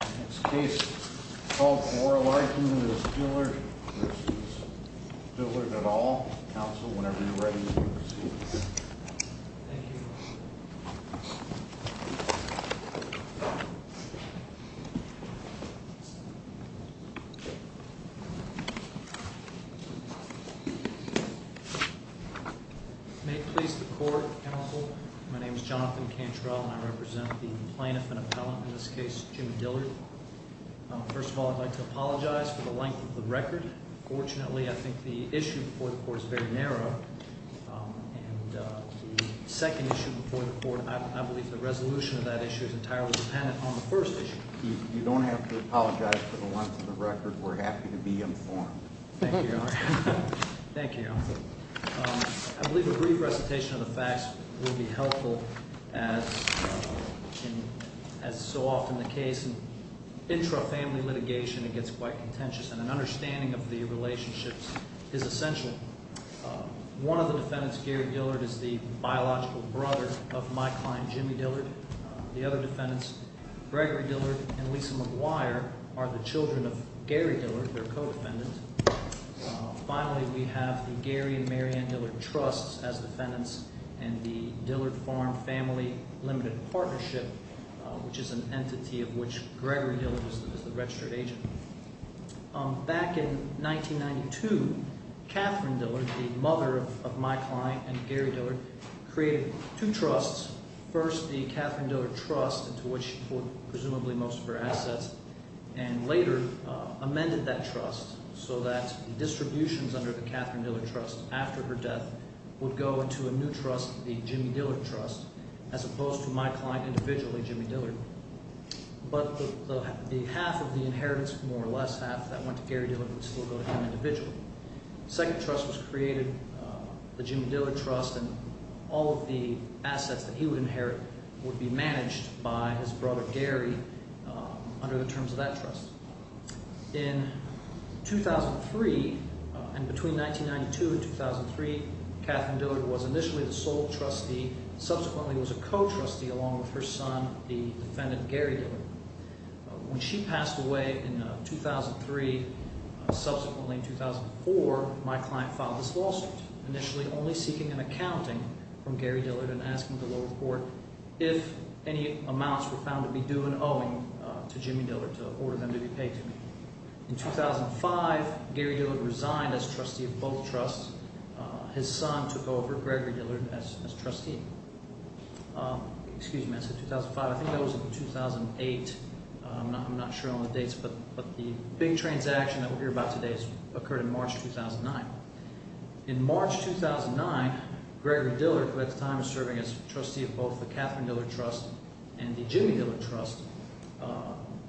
Next case, called more likely as Dillard v. Dillard et al. Counsel, whenever you're ready, please proceed. Thank you. May it please the court, counsel, my name is Jonathan Cantrell and I represent the plaintiff and appellant, in this case, Jim Dillard. First of all, I'd like to apologize for the length of the record. Fortunately, I think the issue before the court is very narrow. And the second issue before the court, I believe the resolution of that issue is entirely dependent on the first issue. You don't have to apologize for the length of the record. We're happy to be informed. Thank you, Your Honor. Thank you, Your Honor. I believe a brief recitation of the facts will be helpful as is so often the case. In intra-family litigation, it gets quite contentious and an understanding of the relationships is essential. One of the defendants, Gary Dillard, is the biological brother of my client, Jimmy Dillard. The other defendants, Gregory Dillard and Lisa McGuire, are the children of Gary Dillard, their co-defendant. Finally, we have the Gary and Mary Ann Dillard Trusts as defendants and the Dillard Farm Family Limited Partnership, which is an entity of which Gregory Dillard is the registered agent. Back in 1992, Catherine Dillard, the mother of my client and Gary Dillard, created two trusts. First, the Catherine Dillard Trust, into which she poured presumably most of her assets, and later amended that trust. So that distributions under the Catherine Dillard Trust, after her death, would go into a new trust, the Jimmy Dillard Trust, as opposed to my client individually, Jimmy Dillard. But the half of the inheritance, more or less half, that went to Gary Dillard would still go to him individually. The second trust was created, the Jimmy Dillard Trust, and all of the assets that he would inherit would be managed by his brother, Gary, under the terms of that trust. In 2003, and between 1992 and 2003, Catherine Dillard was initially the sole trustee, subsequently was a co-trustee along with her son, the defendant, Gary Dillard. When she passed away in 2003, subsequently in 2004, my client filed this lawsuit, initially only seeking an accounting from Gary Dillard and asking the lower court if any amounts were found to be due and owing to Jimmy Dillard to order them to be paid to me. In 2005, Gary Dillard resigned as trustee of both trusts. His son took over, Gregory Dillard, as trustee. Excuse me, I said 2005. I think that was in 2008. I'm not sure on the dates, but the big transaction that we'll hear about today occurred in March 2009. In March 2009, Gregory Dillard, who at the time was serving as trustee of both the Catherine Dillard Trust and the Jimmy Dillard Trust,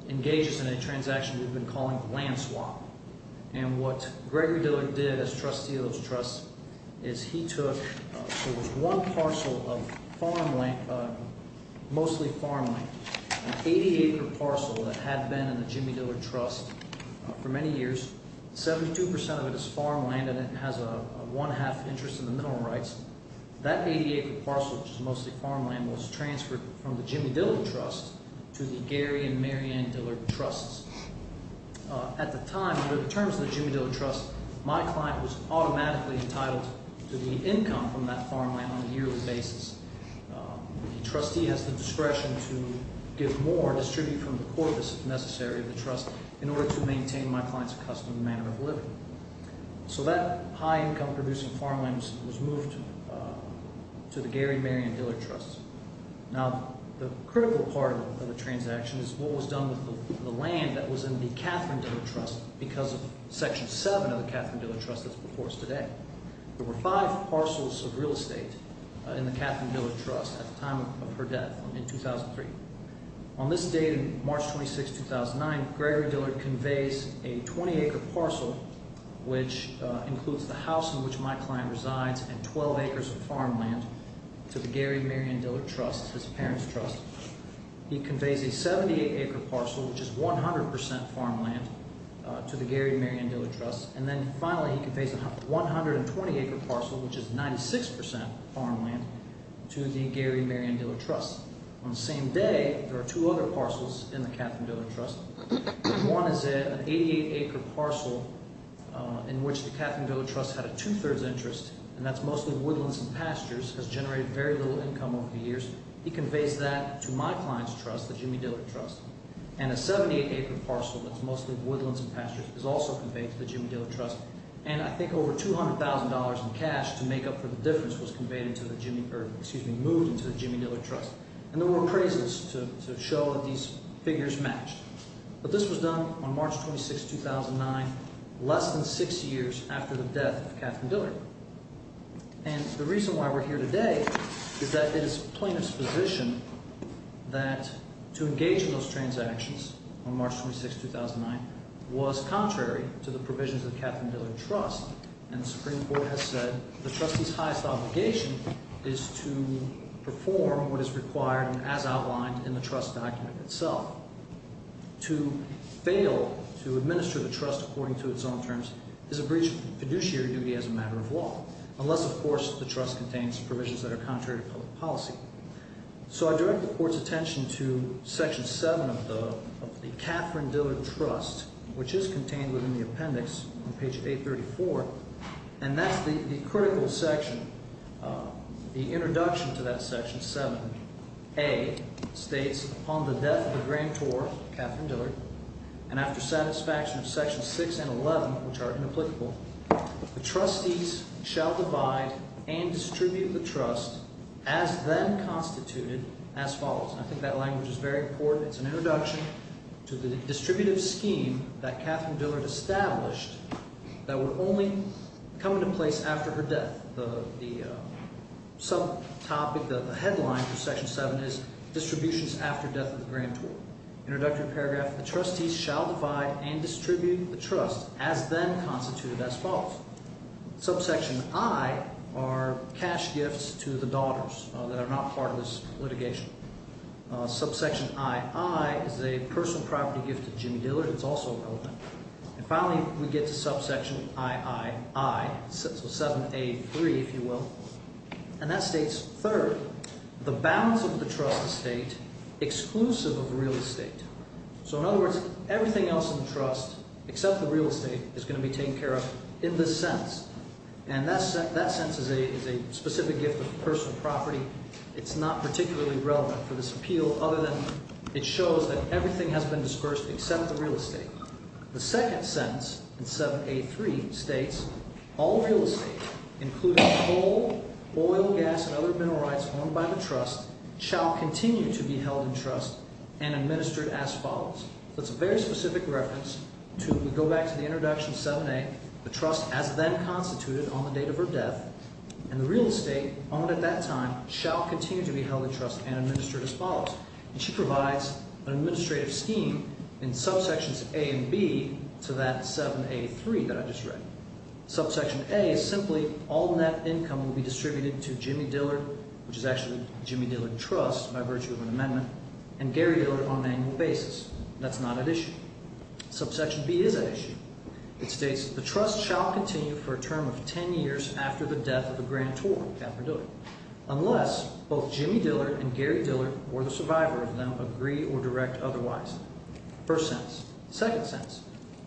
engages in a transaction we've been calling land swap. And what Gregory Dillard did as trustee of those trusts is he took, there was one parcel of farmland, mostly farmland, an 80-acre parcel that had been in the Jimmy Dillard Trust for many years. Seventy-two percent of it is farmland, and it has a one-half interest in the mineral rights. That 80-acre parcel, which is mostly farmland, was transferred from the Jimmy Dillard Trust to the Gary and Mary Ann Dillard Trusts. At the time, under the terms of the Jimmy Dillard Trust, my client was automatically entitled to the income from that farmland on a yearly basis. The trustee has the discretion to give more, distribute from the corpus, if necessary, of the trust in order to maintain my client's accustomed manner of living. So that high-income producing farmland was moved to the Gary and Mary Ann Dillard Trusts. Now, the critical part of the transaction is what was done with the land that was in the Catherine Dillard Trust because of Section 7 of the Catherine Dillard Trust that's before us today. There were five parcels of real estate in the Catherine Dillard Trust at the time of her death in 2003. On this date, March 26, 2009, Gregory Dillard conveys a 20-acre parcel, which includes the house in which my client resides and 12 acres of farmland, to the Gary and Mary Ann Dillard Trusts, his parents' trust. He conveys a 78-acre parcel, which is 100% farmland, to the Gary and Mary Ann Dillard Trusts. And then finally, he conveys a 120-acre parcel, which is 96% farmland, to the Gary and Mary Ann Dillard Trusts. On the same day, there are two other parcels in the Catherine Dillard Trusts. One is an 88-acre parcel in which the Catherine Dillard Trusts had a two-thirds interest, and that's mostly woodlands and pastures, has generated very little income over the years. He conveys that to my client's trust, the Jimmy Dillard Trust. And a 78-acre parcel that's mostly woodlands and pastures is also conveyed to the Jimmy Dillard Trust. And I think over $200,000 in cash to make up for the difference was moved into the Jimmy Dillard Trust. And there were appraisals to show that these figures matched. But this was done on March 26, 2009, less than six years after the death of Catherine Dillard. And the reason why we're here today is that it is plaintiff's position that to engage in those transactions on March 26, 2009, was contrary to the provisions of the Catherine Dillard Trust. And the Supreme Court has said the trustee's highest obligation is to perform what is required and as outlined in the trust document itself. To fail to administer the trust according to its own terms is a breach of fiduciary duty as a matter of law, unless, of course, the trust contains provisions that are contrary to public policy. So I direct the court's attention to Section 7 of the Catherine Dillard Trust, which is contained within the appendix on page 834. And that's the critical section, the introduction to that Section 7. A states, upon the death of the Grand Tour, Catherine Dillard, and after satisfaction of Sections 6 and 11, which are inapplicable, the trustees shall divide and distribute the trust as then constituted as follows. And I think that language is very important. It's an introduction to the distributive scheme that Catherine Dillard established that would only come into place after her death. The sub-topic, the headline for Section 7 is Distributions After Death of the Grand Tour. Introductory paragraph, the trustees shall divide and distribute the trust as then constituted as follows. Subsection I are cash gifts to the daughters that are not part of this litigation. Subsection II is a personal property gift to Jim Dillard. It's also relevant. And finally, we get to Subsection III, so 7A3, if you will. And that states, third, the balance of the trust estate exclusive of real estate. So in other words, everything else in the trust except the real estate is going to be taken care of in this sense. And that sense is a specific gift of personal property. It's not particularly relevant for this appeal other than it shows that everything has been dispersed except the real estate. The second sense in 7A3 states, all real estate, including coal, oil, gas, and other mineral rights owned by the trust, shall continue to be held in trust and administered as follows. So it's a very specific reference to go back to the introduction 7A, the trust as then constituted on the date of her death. And the real estate owned at that time shall continue to be held in trust and administered as follows. And she provides an administrative scheme in subsections A and B to that 7A3 that I just read. Subsection A is simply all net income will be distributed to Jimmy Dillard, which is actually Jimmy Dillard Trust by virtue of an amendment, and Gary Dillard on an annual basis. That's not at issue. Subsection B is at issue. It states, the trust shall continue for a term of 10 years after the death of a grantor, unless both Jimmy Dillard and Gary Dillard, or the survivor of them, agree or direct otherwise. First sense. Second sense.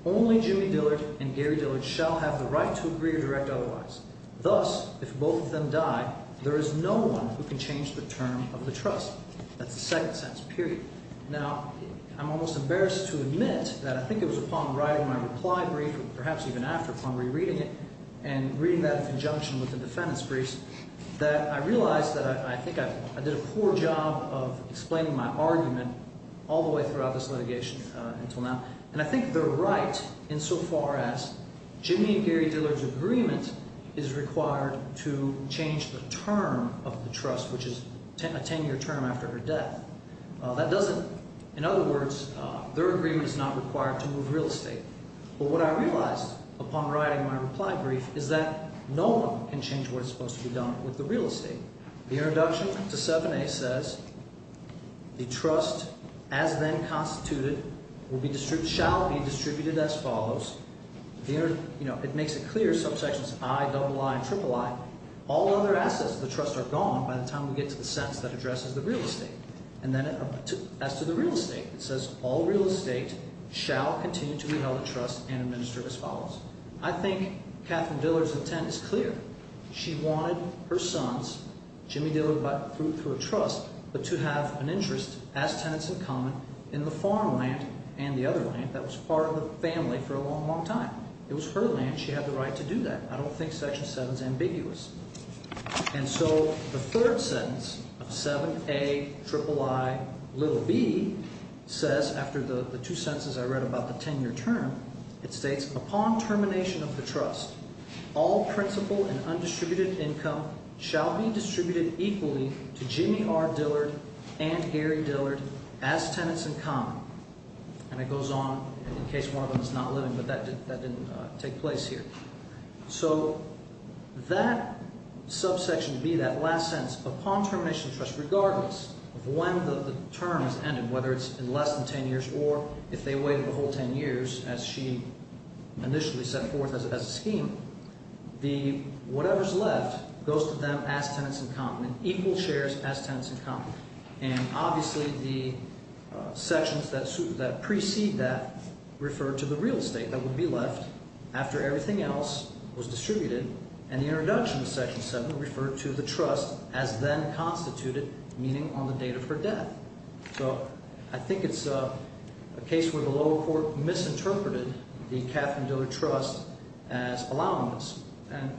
Only Jimmy Dillard and Gary Dillard shall have the right to agree or direct otherwise. Thus, if both of them die, there is no one who can change the term of the trust. That's the second sense, period. Now, I'm almost embarrassed to admit that I think it was upon writing my reply brief, perhaps even after upon rereading it, and reading that in conjunction with the defendant's briefs, that I realized that I think I did a poor job of explaining my argument all the way throughout this litigation until now. And I think they're right insofar as Jimmy and Gary Dillard's agreement is required to change the term of the trust, which is a 10-year term after her death. That doesn't, in other words, their agreement is not required to move real estate. But what I realized upon writing my reply brief is that no one can change what is supposed to be done with the real estate. The introduction to 7A says, the trust, as then constituted, shall be distributed as follows. You know, it makes it clear, subsections I, double I, and triple I. All other assets of the trust are gone by the time we get to the sentence that addresses the real estate. And then as to the real estate, it says, all real estate shall continue to be held in trust and administered as follows. I think Katherine Dillard's intent is clear. She wanted her sons, Jimmy Dillard through a trust, but to have an interest as tenants in common in the farmland and the other land that was part of the family for a long, long time. It was her land. She had the right to do that. I don't think Section 7 is ambiguous. And so the third sentence of 7A, triple I, little b says, after the two sentences I read about the 10-year term, it states, upon termination of the trust, all principal and undistributed income shall be distributed equally to Jimmy R. Dillard and Gary Dillard as tenants in common. And it goes on, in case one of them is not living, but that didn't take place here. So that subsection B, that last sentence, upon termination of the trust, regardless of when the term has ended, whether it's in less than 10 years or if they waive the whole 10 years as she initially set forth as a scheme, the whatever's left goes to them as tenants in common, equal shares as tenants in common. And obviously the sections that precede that refer to the real estate that would be left after everything else was distributed. And the introduction of Section 7 referred to the trust as then constituted, meaning on the date of her death. So I think it's a case where the lower court misinterpreted the Katherine Dillard Trust as allowableness.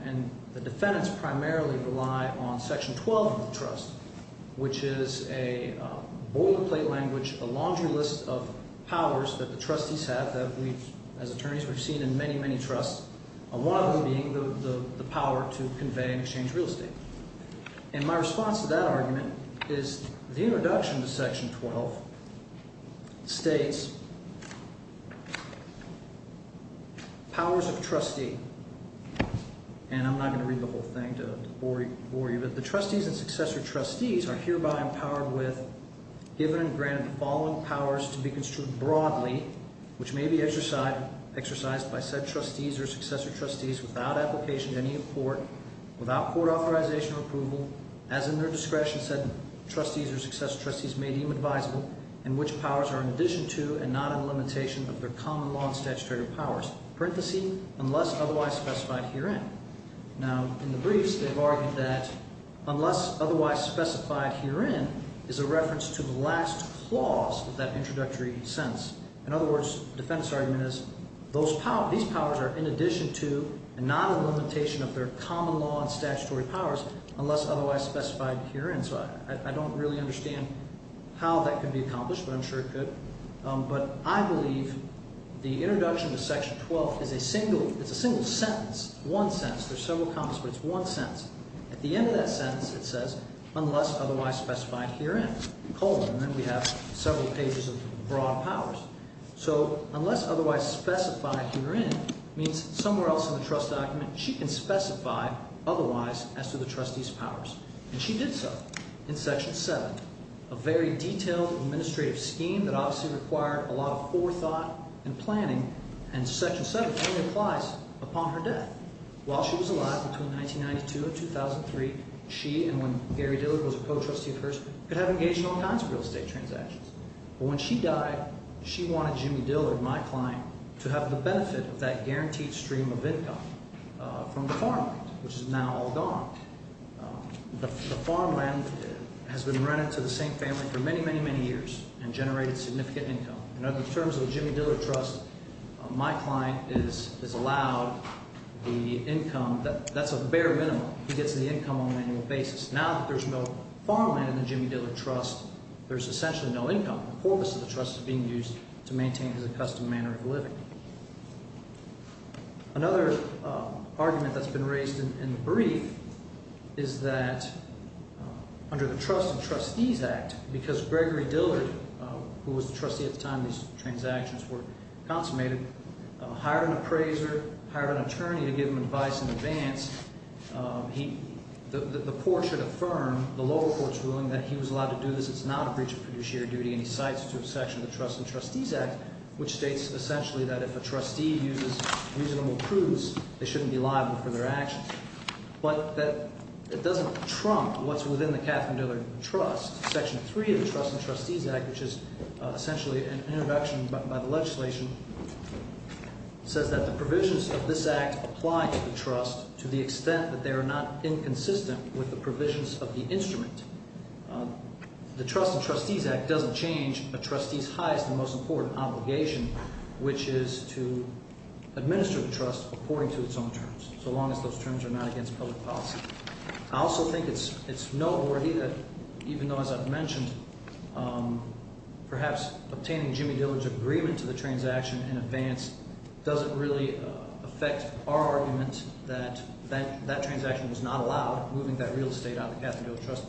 And the defendants primarily rely on Section 12 of the trust, which is a boilerplate language, a laundry list of powers that the trustees have that we, as attorneys, we've seen in many, many trusts, one of them being the power to convey and exchange real estate. And my response to that argument is the introduction to Section 12 states powers of trustee, and I'm not going to read the whole thing to bore you. But the trustees and successor trustees are hereby empowered with, given and granted the following powers to be construed broadly, which may be exercised by said trustees or successor trustees without application to any court, without court authorization or approval, as in their discretion said trustees or successor trustees may deem advisable, and which powers are in addition to and not in limitation of their common law and statutory powers, parenthesis, unless otherwise specified herein. Now, in the briefs, they've argued that unless otherwise specified herein is a reference to the last clause of that introductory sentence. In other words, the defendant's argument is these powers are in addition to and not in limitation of their common law and statutory powers unless otherwise specified herein. So I don't really understand how that could be accomplished, but I'm sure it could. But I believe the introduction to Section 12 is a single, it's a single sentence, one sentence. There's several comments, but it's one sentence. At the end of that sentence, it says, unless otherwise specified herein, colon, and then we have several pages of broad powers. So unless otherwise specified herein means somewhere else in the trust document she can specify otherwise as to the trustees' powers. And she did so in Section 7, a very detailed administrative scheme that obviously required a lot of forethought and planning, and Section 7 only applies upon her death. While she was alive, between 1992 and 2003, she, and when Gary Dillard was a co-trustee of hers, could have engaged in all kinds of real estate transactions. But when she died, she wanted Jimmy Dillard, my client, to have the benefit of that guaranteed stream of income from the farmland, which is now all gone. The farmland has been rented to the same family for many, many, many years and generated significant income. In other terms of the Jimmy Dillard Trust, my client is allowed the income, that's a bare minimum. He gets the income on an annual basis. Now that there's no farmland in the Jimmy Dillard Trust, there's essentially no income. The corpus of the trust is being used to maintain his accustomed manner of living. Another argument that's been raised in the brief is that under the Trust and Trustees Act, because Gregory Dillard, who was the trustee at the time these transactions were consummated, hired an appraiser, hired an attorney to give him advice in advance, the court should affirm, the lower court's ruling, that he was allowed to do this. It's not a breach of fiduciary duty, and he cites to a section of the Trust and Trustees Act, which states essentially that if a trustee uses reasonable proofs, they shouldn't be liable for their actions. But it doesn't trump what's within the Catherine Dillard Trust. Section 3 of the Trust and Trustees Act, which is essentially an introduction by the legislation, says that the provisions of this act apply to the trust to the extent that they are not inconsistent with the provisions of the instrument. The Trust and Trustees Act doesn't change a trustee's highest and most important obligation, which is to administer the trust according to its own terms, so long as those terms are not against public policy. I also think it's noteworthy that even though, as I've mentioned, perhaps obtaining Jimmy Dillard's agreement to the transaction in advance doesn't really affect our argument that that transaction was not allowed, moving that real estate out of the Catherine Dillard Trust.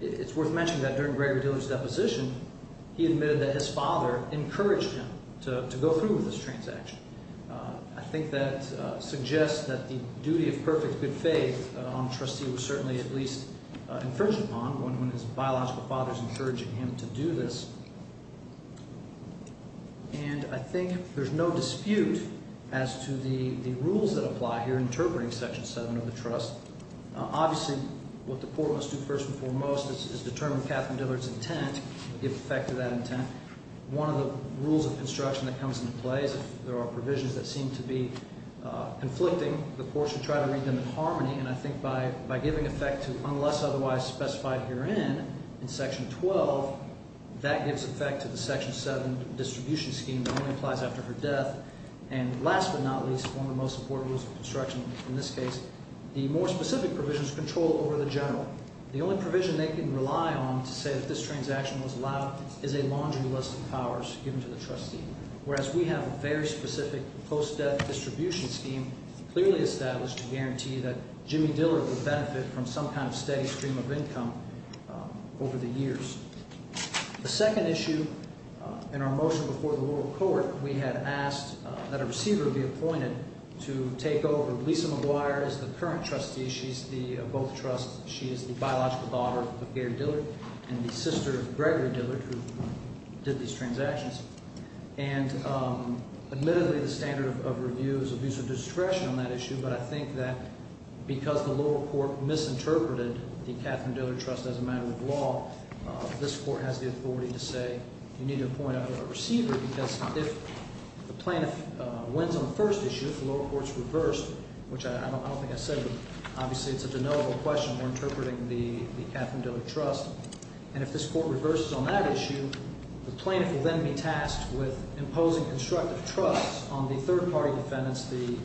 It's worth mentioning that during Gregory Dillard's deposition, he admitted that his father encouraged him to go through with this transaction. I think that suggests that the duty of perfect good faith on a trustee was certainly at least infringed upon when his biological father was encouraging him to do this. And I think there's no dispute as to the rules that apply here in interpreting Section 7 of the Trust. Obviously, what the court must do first and foremost is determine Catherine Dillard's intent and give effect to that intent. One of the rules of construction that comes into play is if there are provisions that seem to be conflicting, the court should try to read them in harmony. And I think by giving effect to unless otherwise specified herein in Section 12, that gives effect to the Section 7 distribution scheme that only applies after her death. And last but not least, one of the most important rules of construction in this case, the more specific provisions control over the general. The only provision they can rely on to say that this transaction was allowed is a laundry list of powers given to the trustee. Whereas we have a very specific post-death distribution scheme clearly established to guarantee that Jimmy Dillard would benefit from some kind of steady stream of income over the years. The second issue in our motion before the lower court, we had asked that a receiver be appointed to take over. Lisa McGuire is the current trustee. She's the, of both trusts. She is the biological daughter of Gary Dillard and the sister of Gregory Dillard, who did these transactions. And admittedly, the standard of review is abuse of discretion on that issue. But I think that because the lower court misinterpreted the Katharine Dillard Trust as a matter of law, this court has the authority to say you need to appoint a receiver. Because if the plaintiff wins on the first issue, if the lower court's reversed, which I don't think I said, but obviously it's a de novo question. We're interpreting the Katharine Dillard Trust. And if this court reverses on that issue, the plaintiff will then be tasked with imposing constructive trust on the third party defendants. The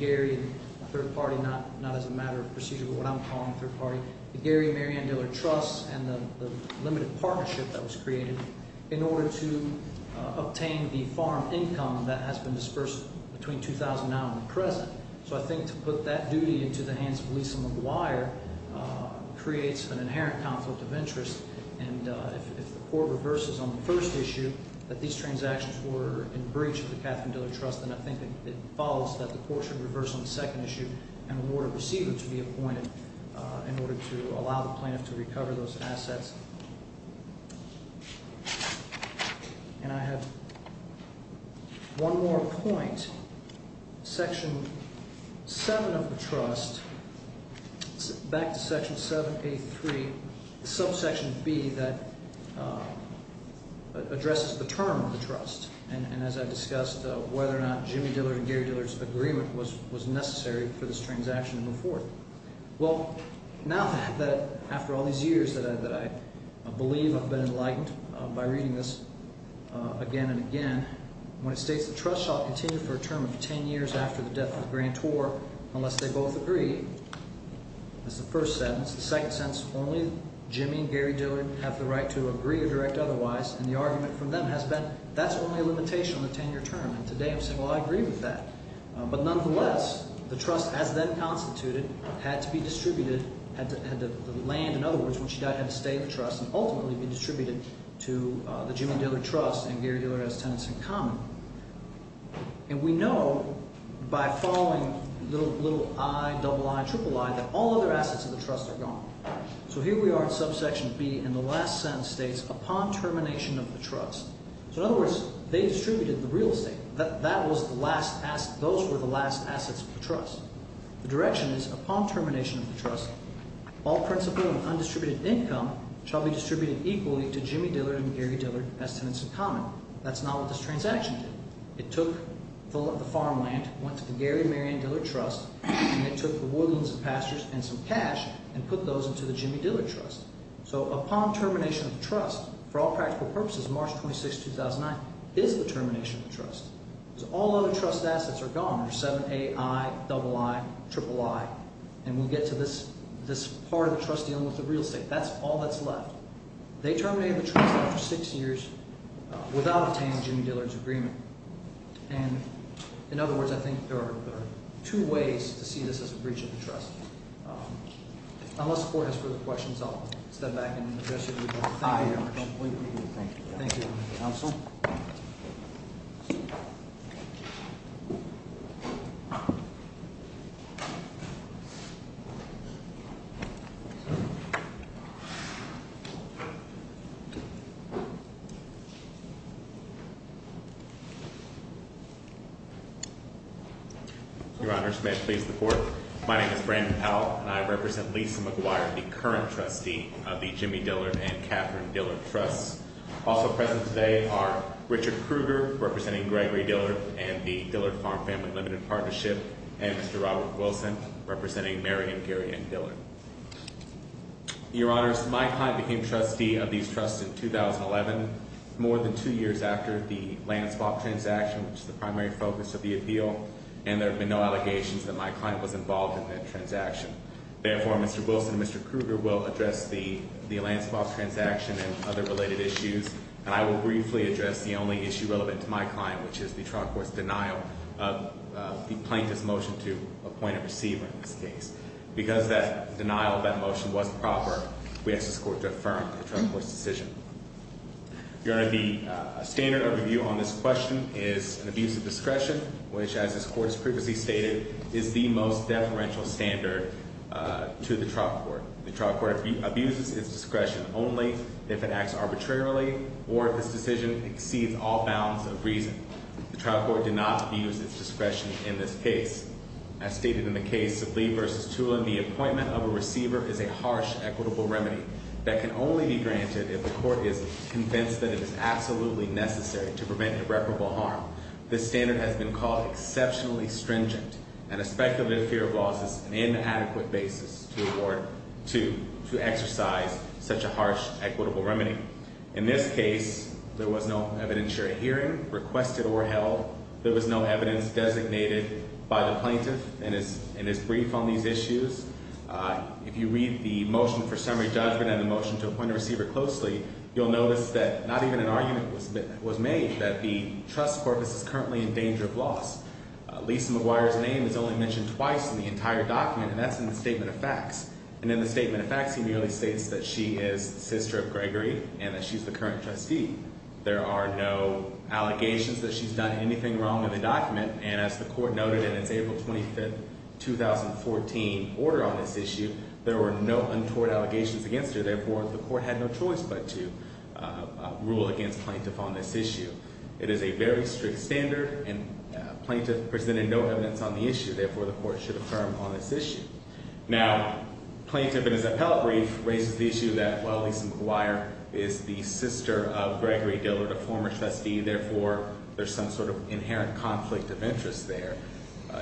Gary, the third party, not as a matter of procedure, but what I'm calling the third party. The Gary Mary Ann Dillard Trust and the limited partnership that was created in order to obtain the farm income that has been dispersed between 2009 and the present. So I think to put that duty into the hands of Lisa McGuire creates an inherent conflict of interest. And if the court reverses on the first issue, that these transactions were in breach of the Katharine Dillard Trust. Then I think it follows that the court should reverse on the second issue and award a receiver to be appointed in order to allow the plaintiff to recover those assets. And I have one more point. Section 7 of the trust, back to section 7A3, subsection B that addresses the term of the trust. And as I discussed, whether or not Jimmy Dillard and Gary Dillard's agreement was necessary for this transaction to move forward. Well, now that after all these years that I believe I've been enlightened by reading this again and again. When it states the trust shall continue for a term of 10 years after the death of Grant Orr unless they both agree. That's the first sentence. The second sentence, only Jimmy and Gary Dillard have the right to agree or direct otherwise. And the argument from them has been that's only a limitation on the 10-year term. And today I'm saying, well, I agree with that. But nonetheless, the trust as then constituted had to be distributed. The land, in other words, when she died had to stay in the trust and ultimately be distributed to the Jimmy Dillard Trust and Gary Dillard and his tenants in common. And we know by following little i, double i, triple i that all other assets of the trust are gone. So here we are in subsection B and the last sentence states, upon termination of the trust. So in other words, they distributed the real estate. That was the last – those were the last assets of the trust. The direction is, upon termination of the trust, all principal and undistributed income shall be distributed equally to Jimmy Dillard and Gary Dillard as tenants in common. That's not what this transaction did. It took the farmland, went to the Gary and Marianne Dillard Trust, and it took the woodlands and pastures and some cash and put those into the Jimmy Dillard Trust. So upon termination of the trust, for all practical purposes, March 26, 2009, is the termination of the trust. So all other trust assets are gone. There's seven a, i, double i, triple i. And we'll get to this part of the trust dealing with the real estate. That's all that's left. They terminated the trust after six years without obtaining Jimmy Dillard's agreement. And in other words, I think there are two ways to see this as a breach of the trust. Unless the court has further questions, I'll step back and address you. Thank you very much. I completely agree. Thank you. Thank you, counsel. Your Honor, may I please report? My name is Brandon Powell, and I represent Lisa McGuire, the current trustee of the Jimmy Dillard and Catherine Dillard Trusts. Also present today are Richard Krueger, representing Gregory Dillard and the Dillard Farm Family Limited Partnership, and Mr. Robert Wilson, representing Marianne, Gary, and Dillard. Your Honors, my client became trustee of these trusts in 2011, more than two years after the land swap transaction, which is the primary focus of the appeal. And there have been no allegations that my client was involved in that transaction. Therefore, Mr. Wilson and Mr. Krueger will address the land swap transaction and other related issues. And I will briefly address the only issue relevant to my client, which is the trial court's denial of the plaintiff's motion to appoint a receiver in this case. Because that denial of that motion was proper, we ask this court to affirm the trial court's decision. Your Honor, the standard of review on this question is an abuse of discretion, which, as this court has previously stated, is the most deferential standard to the trial court. The trial court abuses its discretion only if it acts arbitrarily or if this decision exceeds all bounds of reason. The trial court did not abuse its discretion in this case. As stated in the case of Lee v. Tulin, the appointment of a receiver is a harsh, equitable remedy that can only be granted if the court is convinced that it is absolutely necessary to prevent irreparable harm. This standard has been called exceptionally stringent, and a speculative fear of laws is an inadequate basis to exercise such a harsh, equitable remedy. In this case, there was no evidentiary hearing requested or held. There was no evidence designated by the plaintiff in his brief on these issues. If you read the motion for summary judgment and the motion to appoint a receiver closely, you'll notice that not even an argument was made that the trust corpus is currently in danger of loss. Lisa McGuire's name is only mentioned twice in the entire document, and that's in the statement of facts. And in the statement of facts, he merely states that she is sister of Gregory and that she's the current trustee. There are no allegations that she's done anything wrong in the document, and as the court noted in its April 25, 2014, order on this issue, there were no untoward allegations against her. Therefore, the court had no choice but to rule against plaintiff on this issue. It is a very strict standard, and plaintiff presented no evidence on the issue. Therefore, the court should affirm on this issue. Now, plaintiff in his appellate brief raises the issue that, well, Lisa McGuire is the sister of Gregory Dillard, a former trustee. Therefore, there's some sort of inherent conflict of interest there.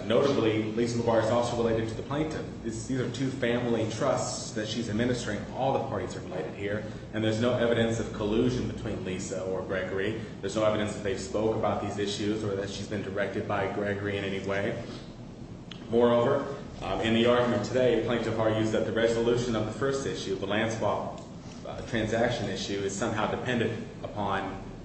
Notably, Lisa McGuire is also related to the plaintiff. These are two family trusts that she's administering. All the parties are related here, and there's no evidence of collusion between Lisa or Gregory. There's no evidence that they spoke about these issues or that she's been directed by Gregory in any way. Moreover, in the argument today, the plaintiff argues that the resolution of the first issue, the land swap transaction issue, is somehow dependent upon,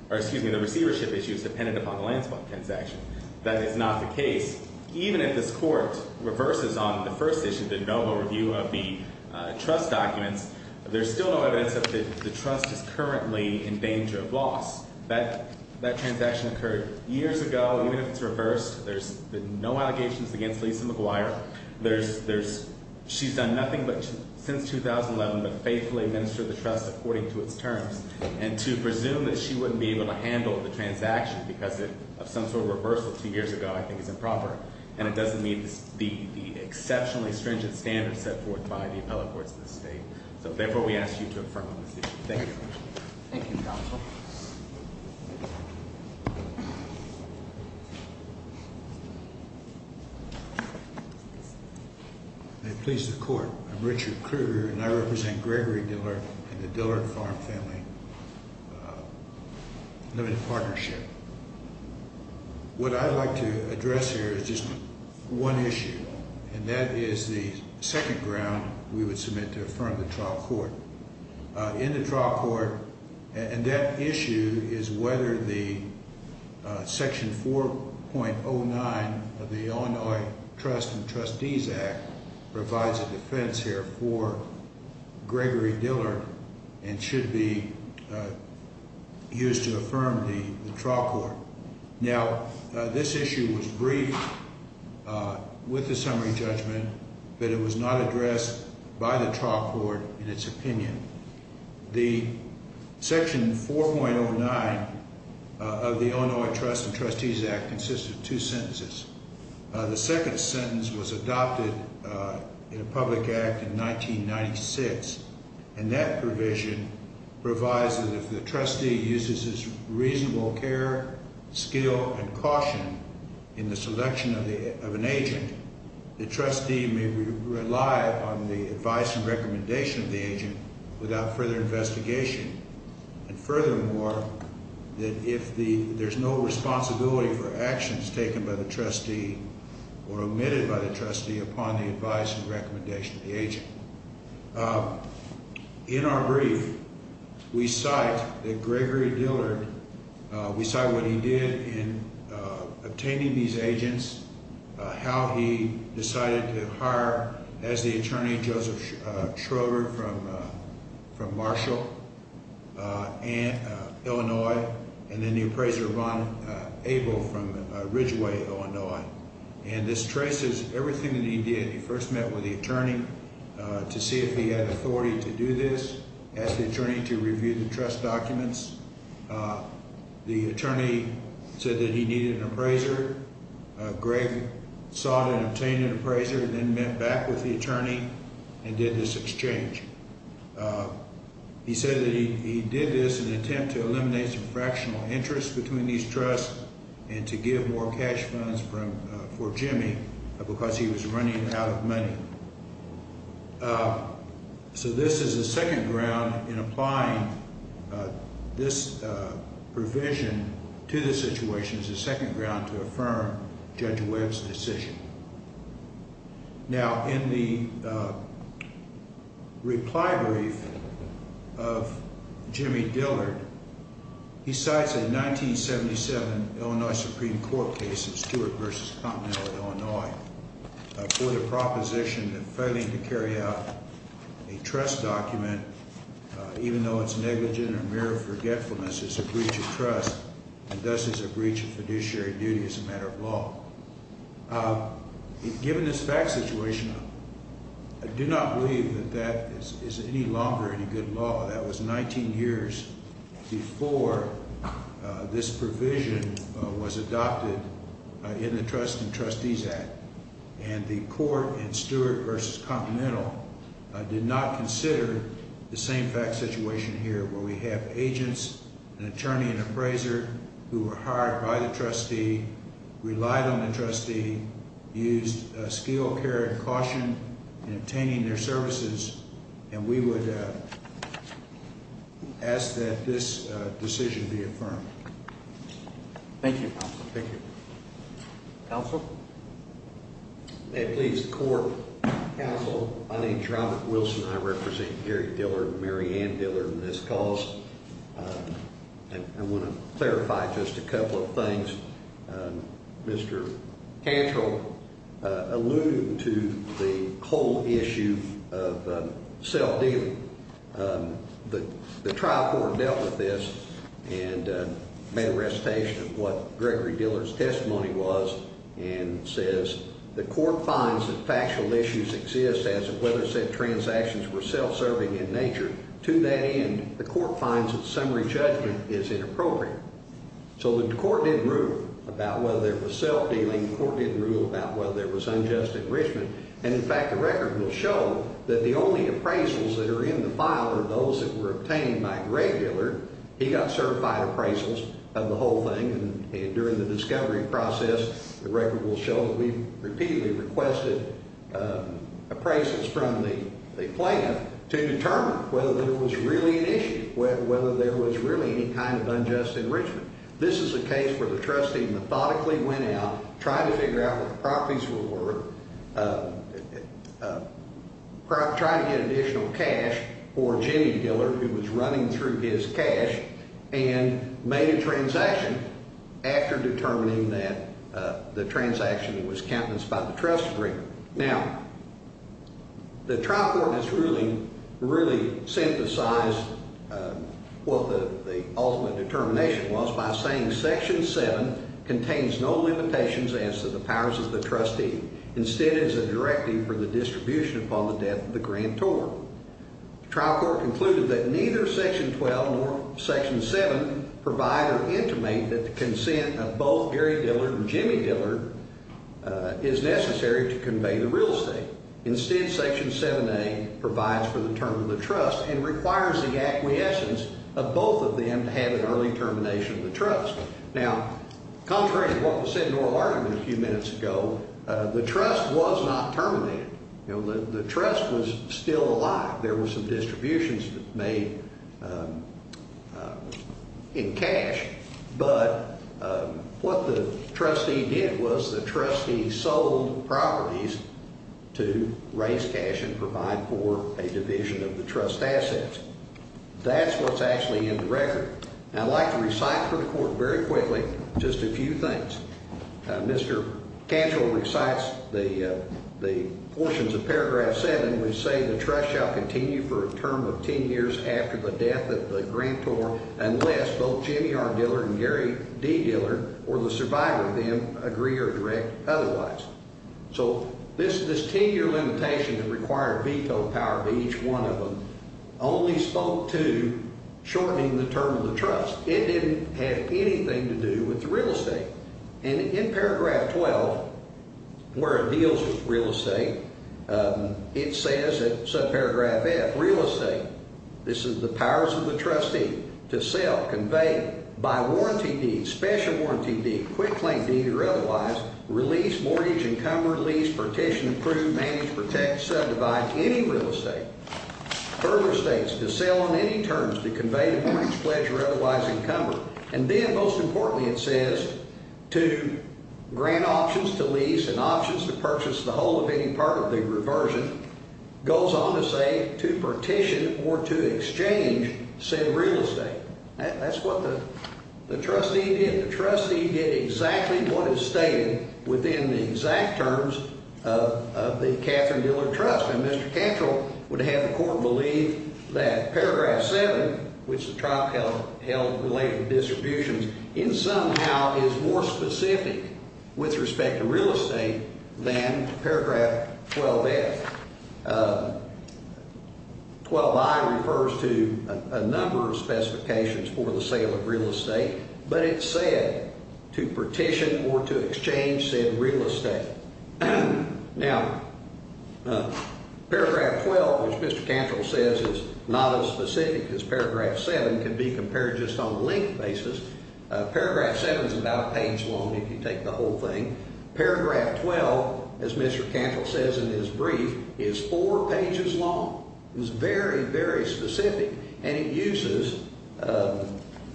or excuse me, the receivership issue is dependent upon the land swap transaction. That is not the case. Even if this court reverses on the first issue, the noble review of the trust documents, there's still no evidence that the trust is currently in danger of loss. That transaction occurred years ago. Even if it's reversed, there's been no allegations against Lisa McGuire. She's done nothing since 2011 but faithfully administered the trust according to its terms. And to presume that she wouldn't be able to handle the transaction because of some sort of reversal two years ago, I think is improper. And it doesn't meet the exceptionally stringent standards set forth by the appellate courts of the state. So therefore, we ask you to affirm on this issue. Thank you. Thank you, counsel. May it please the court. I'm Richard Krueger and I represent Gregory Dillard and the Dillard Farm Family Limited Partnership. What I'd like to address here is just one issue. And that is the second ground we would submit to affirm the trial court. In the trial court, and that issue is whether the section 4.09 of the Illinois Trust and Trustees Act provides a defense here for Gregory Dillard and should be used to affirm the trial court. Now, this issue was briefed with the summary judgment but it was not addressed by the trial court in its opinion. The section 4.09 of the Illinois Trust and Trustees Act consists of two sentences. The second sentence was adopted in a public act in 1996. And that provision provides that if the trustee uses his reasonable care, skill, and caution in the selection of an agent, the trustee may rely on the advice and recommendation of the agent without further investigation. And furthermore, that if there's no responsibility for actions taken by the trustee or omitted by the trustee upon the advice and recommendation of the agent. In our brief, we cite that Gregory Dillard, we cite what he did in obtaining these agents, how he decided to hire as the attorney Joseph Schroeder from Marshall, Illinois, and then the appraiser Ron Abel from Ridgeway, Illinois. And this traces everything that he did. He first met with the attorney to see if he had authority to do this, asked the attorney to review the trust documents. The attorney said that he needed an appraiser. Greg sought and obtained an appraiser and then met back with the attorney and did this exchange. He said that he did this in an attempt to eliminate some fractional interest between these trusts and to give more cash funds for Jimmy because he was running out of money. So this is a second ground in applying this provision to the situation as a second ground to affirm Judge Webb's decision. Now, in the reply brief of Jimmy Dillard, he cites a 1977 Illinois Supreme Court case of Stewart v. Continental, Illinois, for the proposition of failing to carry out a trust document even though it's negligent or mere forgetfulness is a breach of trust and thus is a breach of fiduciary duty as a matter of law. Given this fact situation, I do not believe that that is any longer any good law. That was 19 years before this provision was adopted in the Trust and Trustees Act. And the court in Stewart v. Continental did not consider the same fact situation here where we have agents, an attorney, an appraiser who were hired by the trustee, relied on the trustee, used skill, care, and caution in obtaining their services. And we would ask that this decision be affirmed. Thank you, counsel. Thank you. Counsel? May it please the court. Counsel, my name's Robert Wilson. I represent Gary Dillard and Mary Ann Dillard in this cause. I want to clarify just a couple of things. Mr. Cantrell alluded to the whole issue of cell dealing. The trial court dealt with this and made a recitation of what Gregory Dillard's testimony was and says the court finds that factual issues exist as to whether said transactions were self-serving in nature. To that end, the court finds that summary judgment is inappropriate. So the court didn't rule about whether there was cell dealing. The court didn't rule about whether there was unjust enrichment. And, in fact, the record will show that the only appraisals that are in the file are those that were obtained by Gregory Dillard. He got certified appraisals of the whole thing. And during the discovery process, the record will show that we repeatedly requested appraisals from the plan to determine whether there was really an issue, whether there was really any kind of unjust enrichment. This is a case where the trustee methodically went out, tried to figure out what the properties were worth, tried to get additional cash for Jimmy Dillard, who was running through his cash, and made a transaction after determining that the transaction was countenanced by the trustee. Now, the trial court in its ruling really synthesized what the ultimate determination was by saying Section 7 contains no limitations as to the powers of the trustee. Instead, it's a directive for the distribution upon the death of the grantor. The trial court concluded that neither Section 12 nor Section 7 provide or intimate that the consent of both Gary Dillard and Jimmy Dillard is necessary to convey the real estate. Instead, Section 7A provides for the term of the trust and requires the acquiescence of both of them to have an early termination of the trust. Now, contrary to what was said in oral argument a few minutes ago, the trust was not terminated. The trust was still alive. There were some distributions made in cash, but what the trustee did was the trustee sold properties to raise cash and provide for a division of the trust assets. That's what's actually in the record. I'd like to recite for the court very quickly just a few things. Mr. Cantor recites the portions of Paragraph 7 which say the trust shall continue for a term of 10 years after the death of the grantor unless both Jimmy R. Dillard and Gary D. Dillard or the survivor of them agree or direct otherwise. So this 10-year limitation that required veto power to each one of them only spoke to shortening the term of the trust. It didn't have anything to do with the real estate. And in Paragraph 12, where it deals with real estate, it says in subparagraph F, real estate, this is the powers of the trustee, to sell, convey, buy warranty deeds, special warranty deeds, quick claim deeds or otherwise, release, mortgage, encumber, lease, partition, approve, manage, protect, subdivide any real estate. Further states to sell on any terms to convey the mortgage, pledge, or otherwise encumber. And then most importantly it says to grant options to lease and options to purchase the whole or any part of the reversion. Goes on to say to partition or to exchange said real estate. That's what the trustee did. The trustee did exactly what is stated within the exact terms of the Catherine Dillard Trust. And Mr. Cantrell would have the court believe that Paragraph 7, which the trial held related to distributions, in some how is more specific with respect to real estate than Paragraph 12-F. 12-I refers to a number of specifications for the sale of real estate, but it said to partition or to exchange said real estate. Now, Paragraph 12, which Mr. Cantrell says is not as specific as Paragraph 7, can be compared just on length basis. Paragraph 7 is about a page long if you take the whole thing. Paragraph 12, as Mr. Cantrell says in his brief, is four pages long. It's very, very specific and it uses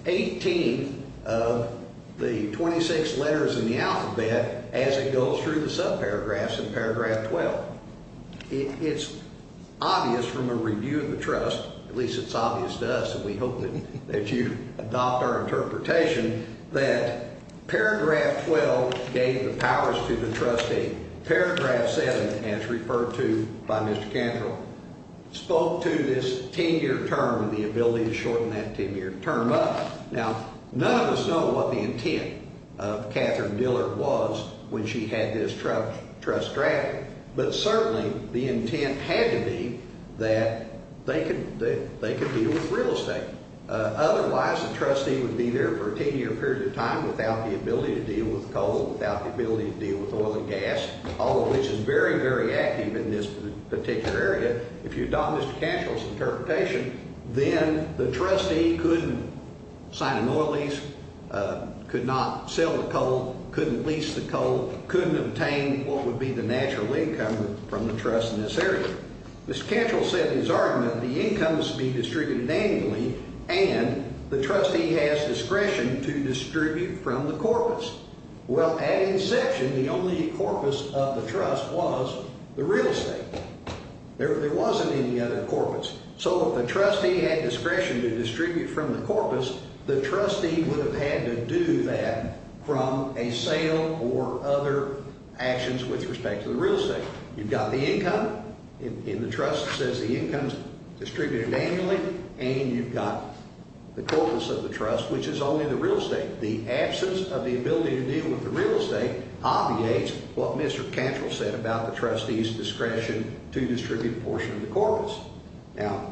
18 of the 26 letters in the alphabet as it goes through the subparagraphs in Paragraph 12. It's obvious from a review of the trust, at least it's obvious to us and we hope that you adopt our interpretation, that Paragraph 12 gave the powers to the trustee. Paragraph 7, as referred to by Mr. Cantrell, spoke to this 10-year term and the ability to shorten that 10-year term up. Now, none of us know what the intent of Catherine Dillard was when she had this trust drafted, but certainly the intent had to be that they could deal with real estate. Otherwise, the trustee would be there for a 10-year period of time without the ability to deal with coal, without the ability to deal with oil and gas, all of which is very, very active in this particular area. If you adopt Mr. Cantrell's interpretation, then the trustee couldn't sign an oil lease, could not sell the coal, couldn't lease the coal, couldn't obtain what would be the natural income from the trust in this area. Mr. Cantrell said in his argument that the income must be distributed annually and the trustee has discretion to distribute from the corpus. Well, at inception, the only corpus of the trust was the real estate. There wasn't any other corpus. So if the trustee had discretion to distribute from the corpus, the trustee would have had to do that from a sale or other actions with respect to the real estate. You've got the income, and the trust says the income is distributed annually, and you've got the corpus of the trust, which is only the real estate. The absence of the ability to deal with the real estate obviates what Mr. Cantrell said about the trustee's discretion to distribute a portion of the corpus. Now,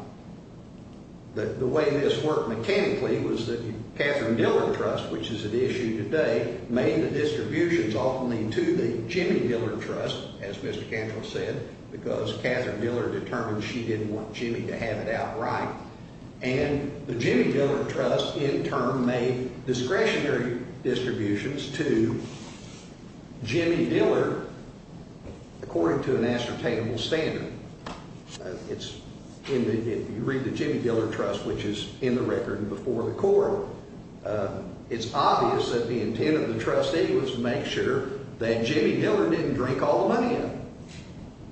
the way this worked mechanically was that the Catherine Dillard Trust, which is at issue today, made the distributions ultimately to the Jimmy Dillard Trust, as Mr. Cantrell said, because Catherine Dillard determined she didn't want Jimmy to have it outright. And the Jimmy Dillard Trust, in turn, made discretionary distributions to Jimmy Dillard according to an ascertainable standard. If you read the Jimmy Dillard Trust, which is in the record and before the court, it's obvious that the intent of the trustee was to make sure that Jimmy Dillard didn't drink all the money in it.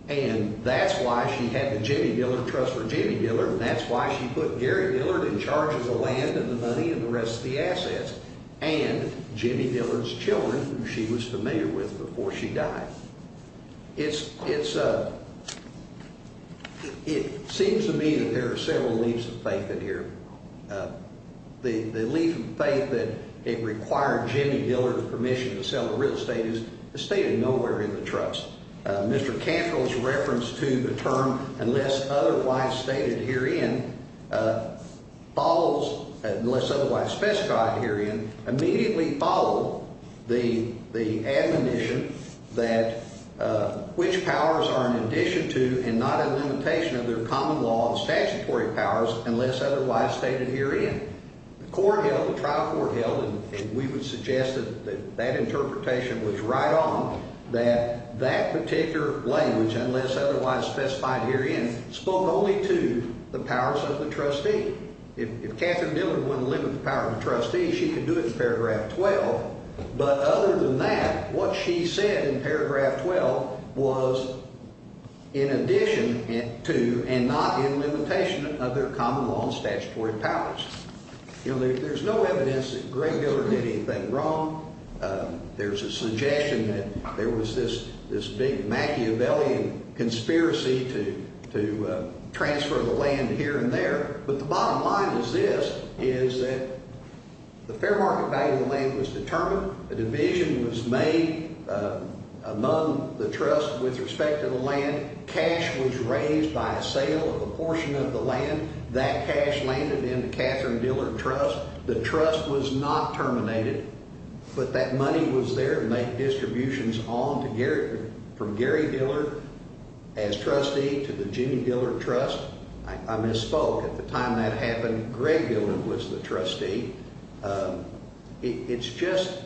And that's why she had the Jimmy Dillard Trust for Jimmy Dillard, and that's why she put Gary Dillard in charge of the land and the money and the rest of the assets, and Jimmy Dillard's children, who she was familiar with before she died. It seems to me that there are several leaves of faith in here. The leaf of faith that it required Jimmy Dillard's permission to sell the real estate is stated nowhere in the trust. Mr. Cantrell's reference to the term, unless otherwise stated herein, immediately followed the admonition that which powers are in addition to and not a limitation of their common law and statutory powers, unless otherwise stated herein. The court held, the trial court held, and we would suggest that that interpretation was right on, that that particular language, unless otherwise specified herein, spoke only to the powers of the trustee. If Katherine Dillard wouldn't limit the power of the trustee, she could do it in paragraph 12. But other than that, what she said in paragraph 12 was in addition to and not in limitation of their common law and statutory powers. There's no evidence that Greg Dillard did anything wrong. There's a suggestion that there was this big Machiavellian conspiracy to transfer the land here and there, but the bottom line is this, is that the fair market value of the land was determined. A division was made among the trust with respect to the land. Cash was raised by a sale of a portion of the land. That cash landed in the Katherine Dillard Trust. The trust was not terminated, but that money was there to make distributions on to Gary, from Gary Dillard as trustee to the Jimmy Dillard Trust. I misspoke. At the time that happened, Greg Dillard was the trustee. It's just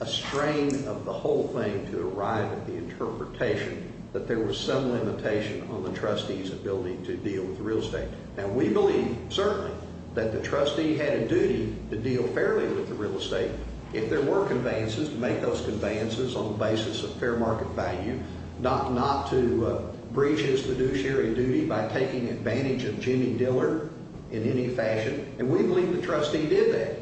a strain of the whole thing to arrive at the interpretation that there was some limitation on the trustee's ability to deal with real estate. Now we believe, certainly, that the trustee had a duty to deal fairly with the real estate. If there were conveyances, to make those conveyances on the basis of fair market value, not to breach his fiduciary duty by taking advantage of Jimmy Dillard in any fashion, and we believe the trustee did that.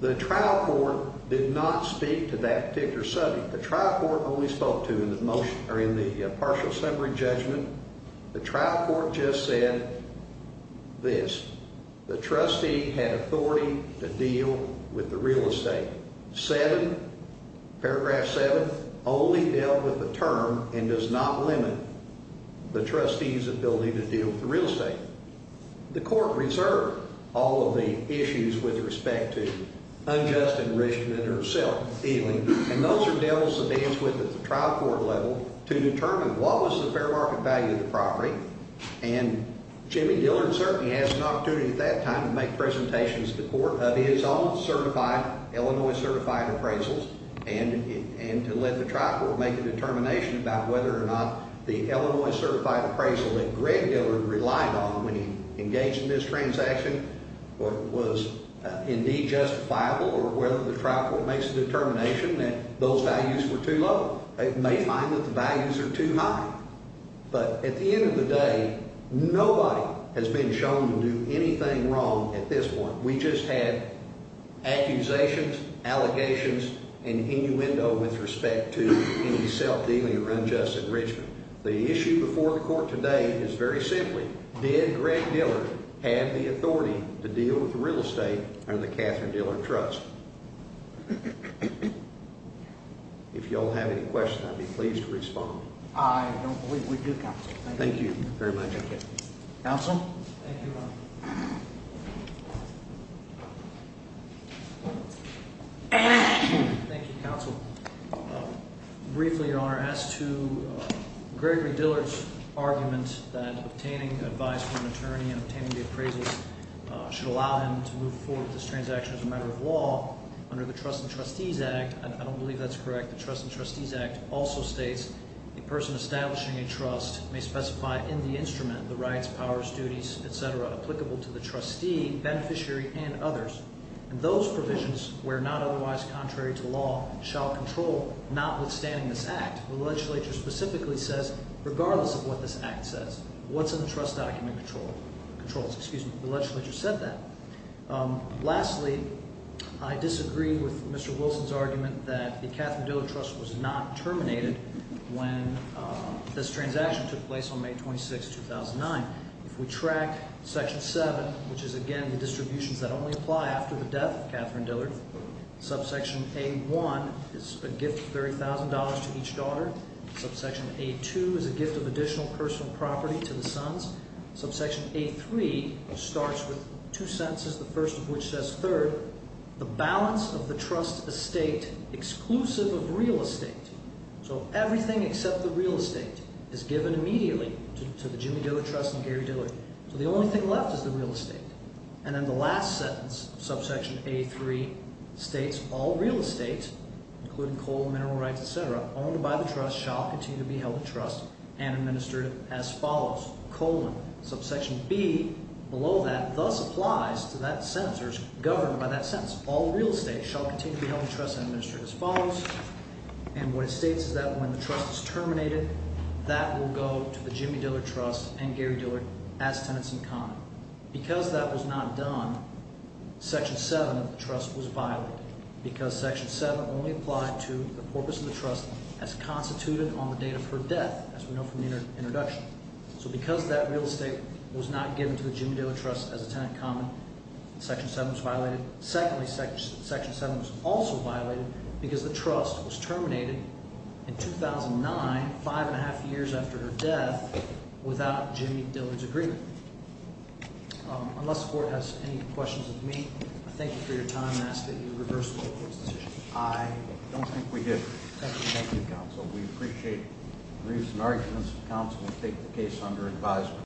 The trial court did not speak to that particular subject. The trial court only spoke to, in the partial summary judgment, the trial court just said this, the trustee had authority to deal with the real estate. 7, paragraph 7, only dealt with the term, and does not limit the trustee's ability to deal with the real estate. The court reserved all of the issues with respect to unjust enrichment or self-dealing, and those are deals to dance with at the trial court level to determine what was the fair market value of the property, and Jimmy Dillard certainly has an opportunity at that time to make presentations to the court of his own certified, Illinois certified appraisals, and to let the trial court make a determination about whether or not the Illinois certified appraisal that Greg Dillard relied on when he engaged in this transaction was indeed justifiable, or whether the trial court makes a determination that those values were too low. They may find that the values are too high, but at the end of the day, nobody has been shown to do anything wrong at this point. We just had accusations, allegations, and innuendo with respect to any self-dealing or unjust enrichment. The issue before the court today is very simply, did Greg Dillard have the authority to deal with the real estate under the Catherine Dillard Trust? If y'all have any questions, I'd be pleased to respond. I don't believe we do, Counsel. Thank you very much. Counsel? Thank you, Counsel. Briefly, Your Honor, as to Gregory Dillard's argument that obtaining advice from an attorney and obtaining the appraisals should allow him to move forward with this transaction as a matter of law, under the Trust and Trustees Act, and I don't believe that's correct, the Trust and Trustees Act also states, a person establishing a trust may specify in the instrument the rights, powers, duties, etc., applicable to the trustee, beneficiary, and others. Those provisions, where not otherwise contrary to law, shall control notwithstanding this act. The legislature specifically says, regardless of what this act says, what's in the trust document controls. Excuse me. The legislature said that. Lastly, I disagree with Mr. Wilson's argument that the Catherine Dillard Trust was not terminated when this transaction took place on May 26, 2009. If we track Section 7, which is, again, the distributions that only apply after the death of Catherine Dillard, Subsection A1 is a gift of $30,000 to each daughter. Subsection A2 is a gift of additional personal property to the sons. Subsection A3 starts with two sentences, the first of which says, Third, the balance of the trust estate, exclusive of real estate, So everything except the real estate is given immediately to the Jimmy Dillard Trust and Gary Dillard. So the only thing left is the real estate. And then the last sentence, Subsection A3, states, All real estate, including coal, mineral rights, etc., owned by the trust, shall continue to be held in trust and administered as follows, colon. Subsection B, below that, thus applies to that sentence, or is governed by that sentence. All real estate shall continue to be held in trust and administered as follows, And what it states is that when the trust is terminated, that will go to the Jimmy Dillard Trust and Gary Dillard as tenants-in-common. Because that was not done, Section 7 of the trust was violated. Because Section 7 only applied to the purpose of the trust as constituted on the date of her death, as we know from the introduction. So because that real estate was not given to the Jimmy Dillard Trust as a tenant-in-common, Section 7 was violated. Secondly, Section 7 was also violated because the trust was terminated in 2009, five and a half years after her death, without Jimmy Dillard's agreement. Unless the Court has any questions of me, I thank you for your time and ask that you reverse the Court's decision. I don't think we did. Thank you, Counsel. We appreciate briefs and arguments. Counsel will take the case under advisement.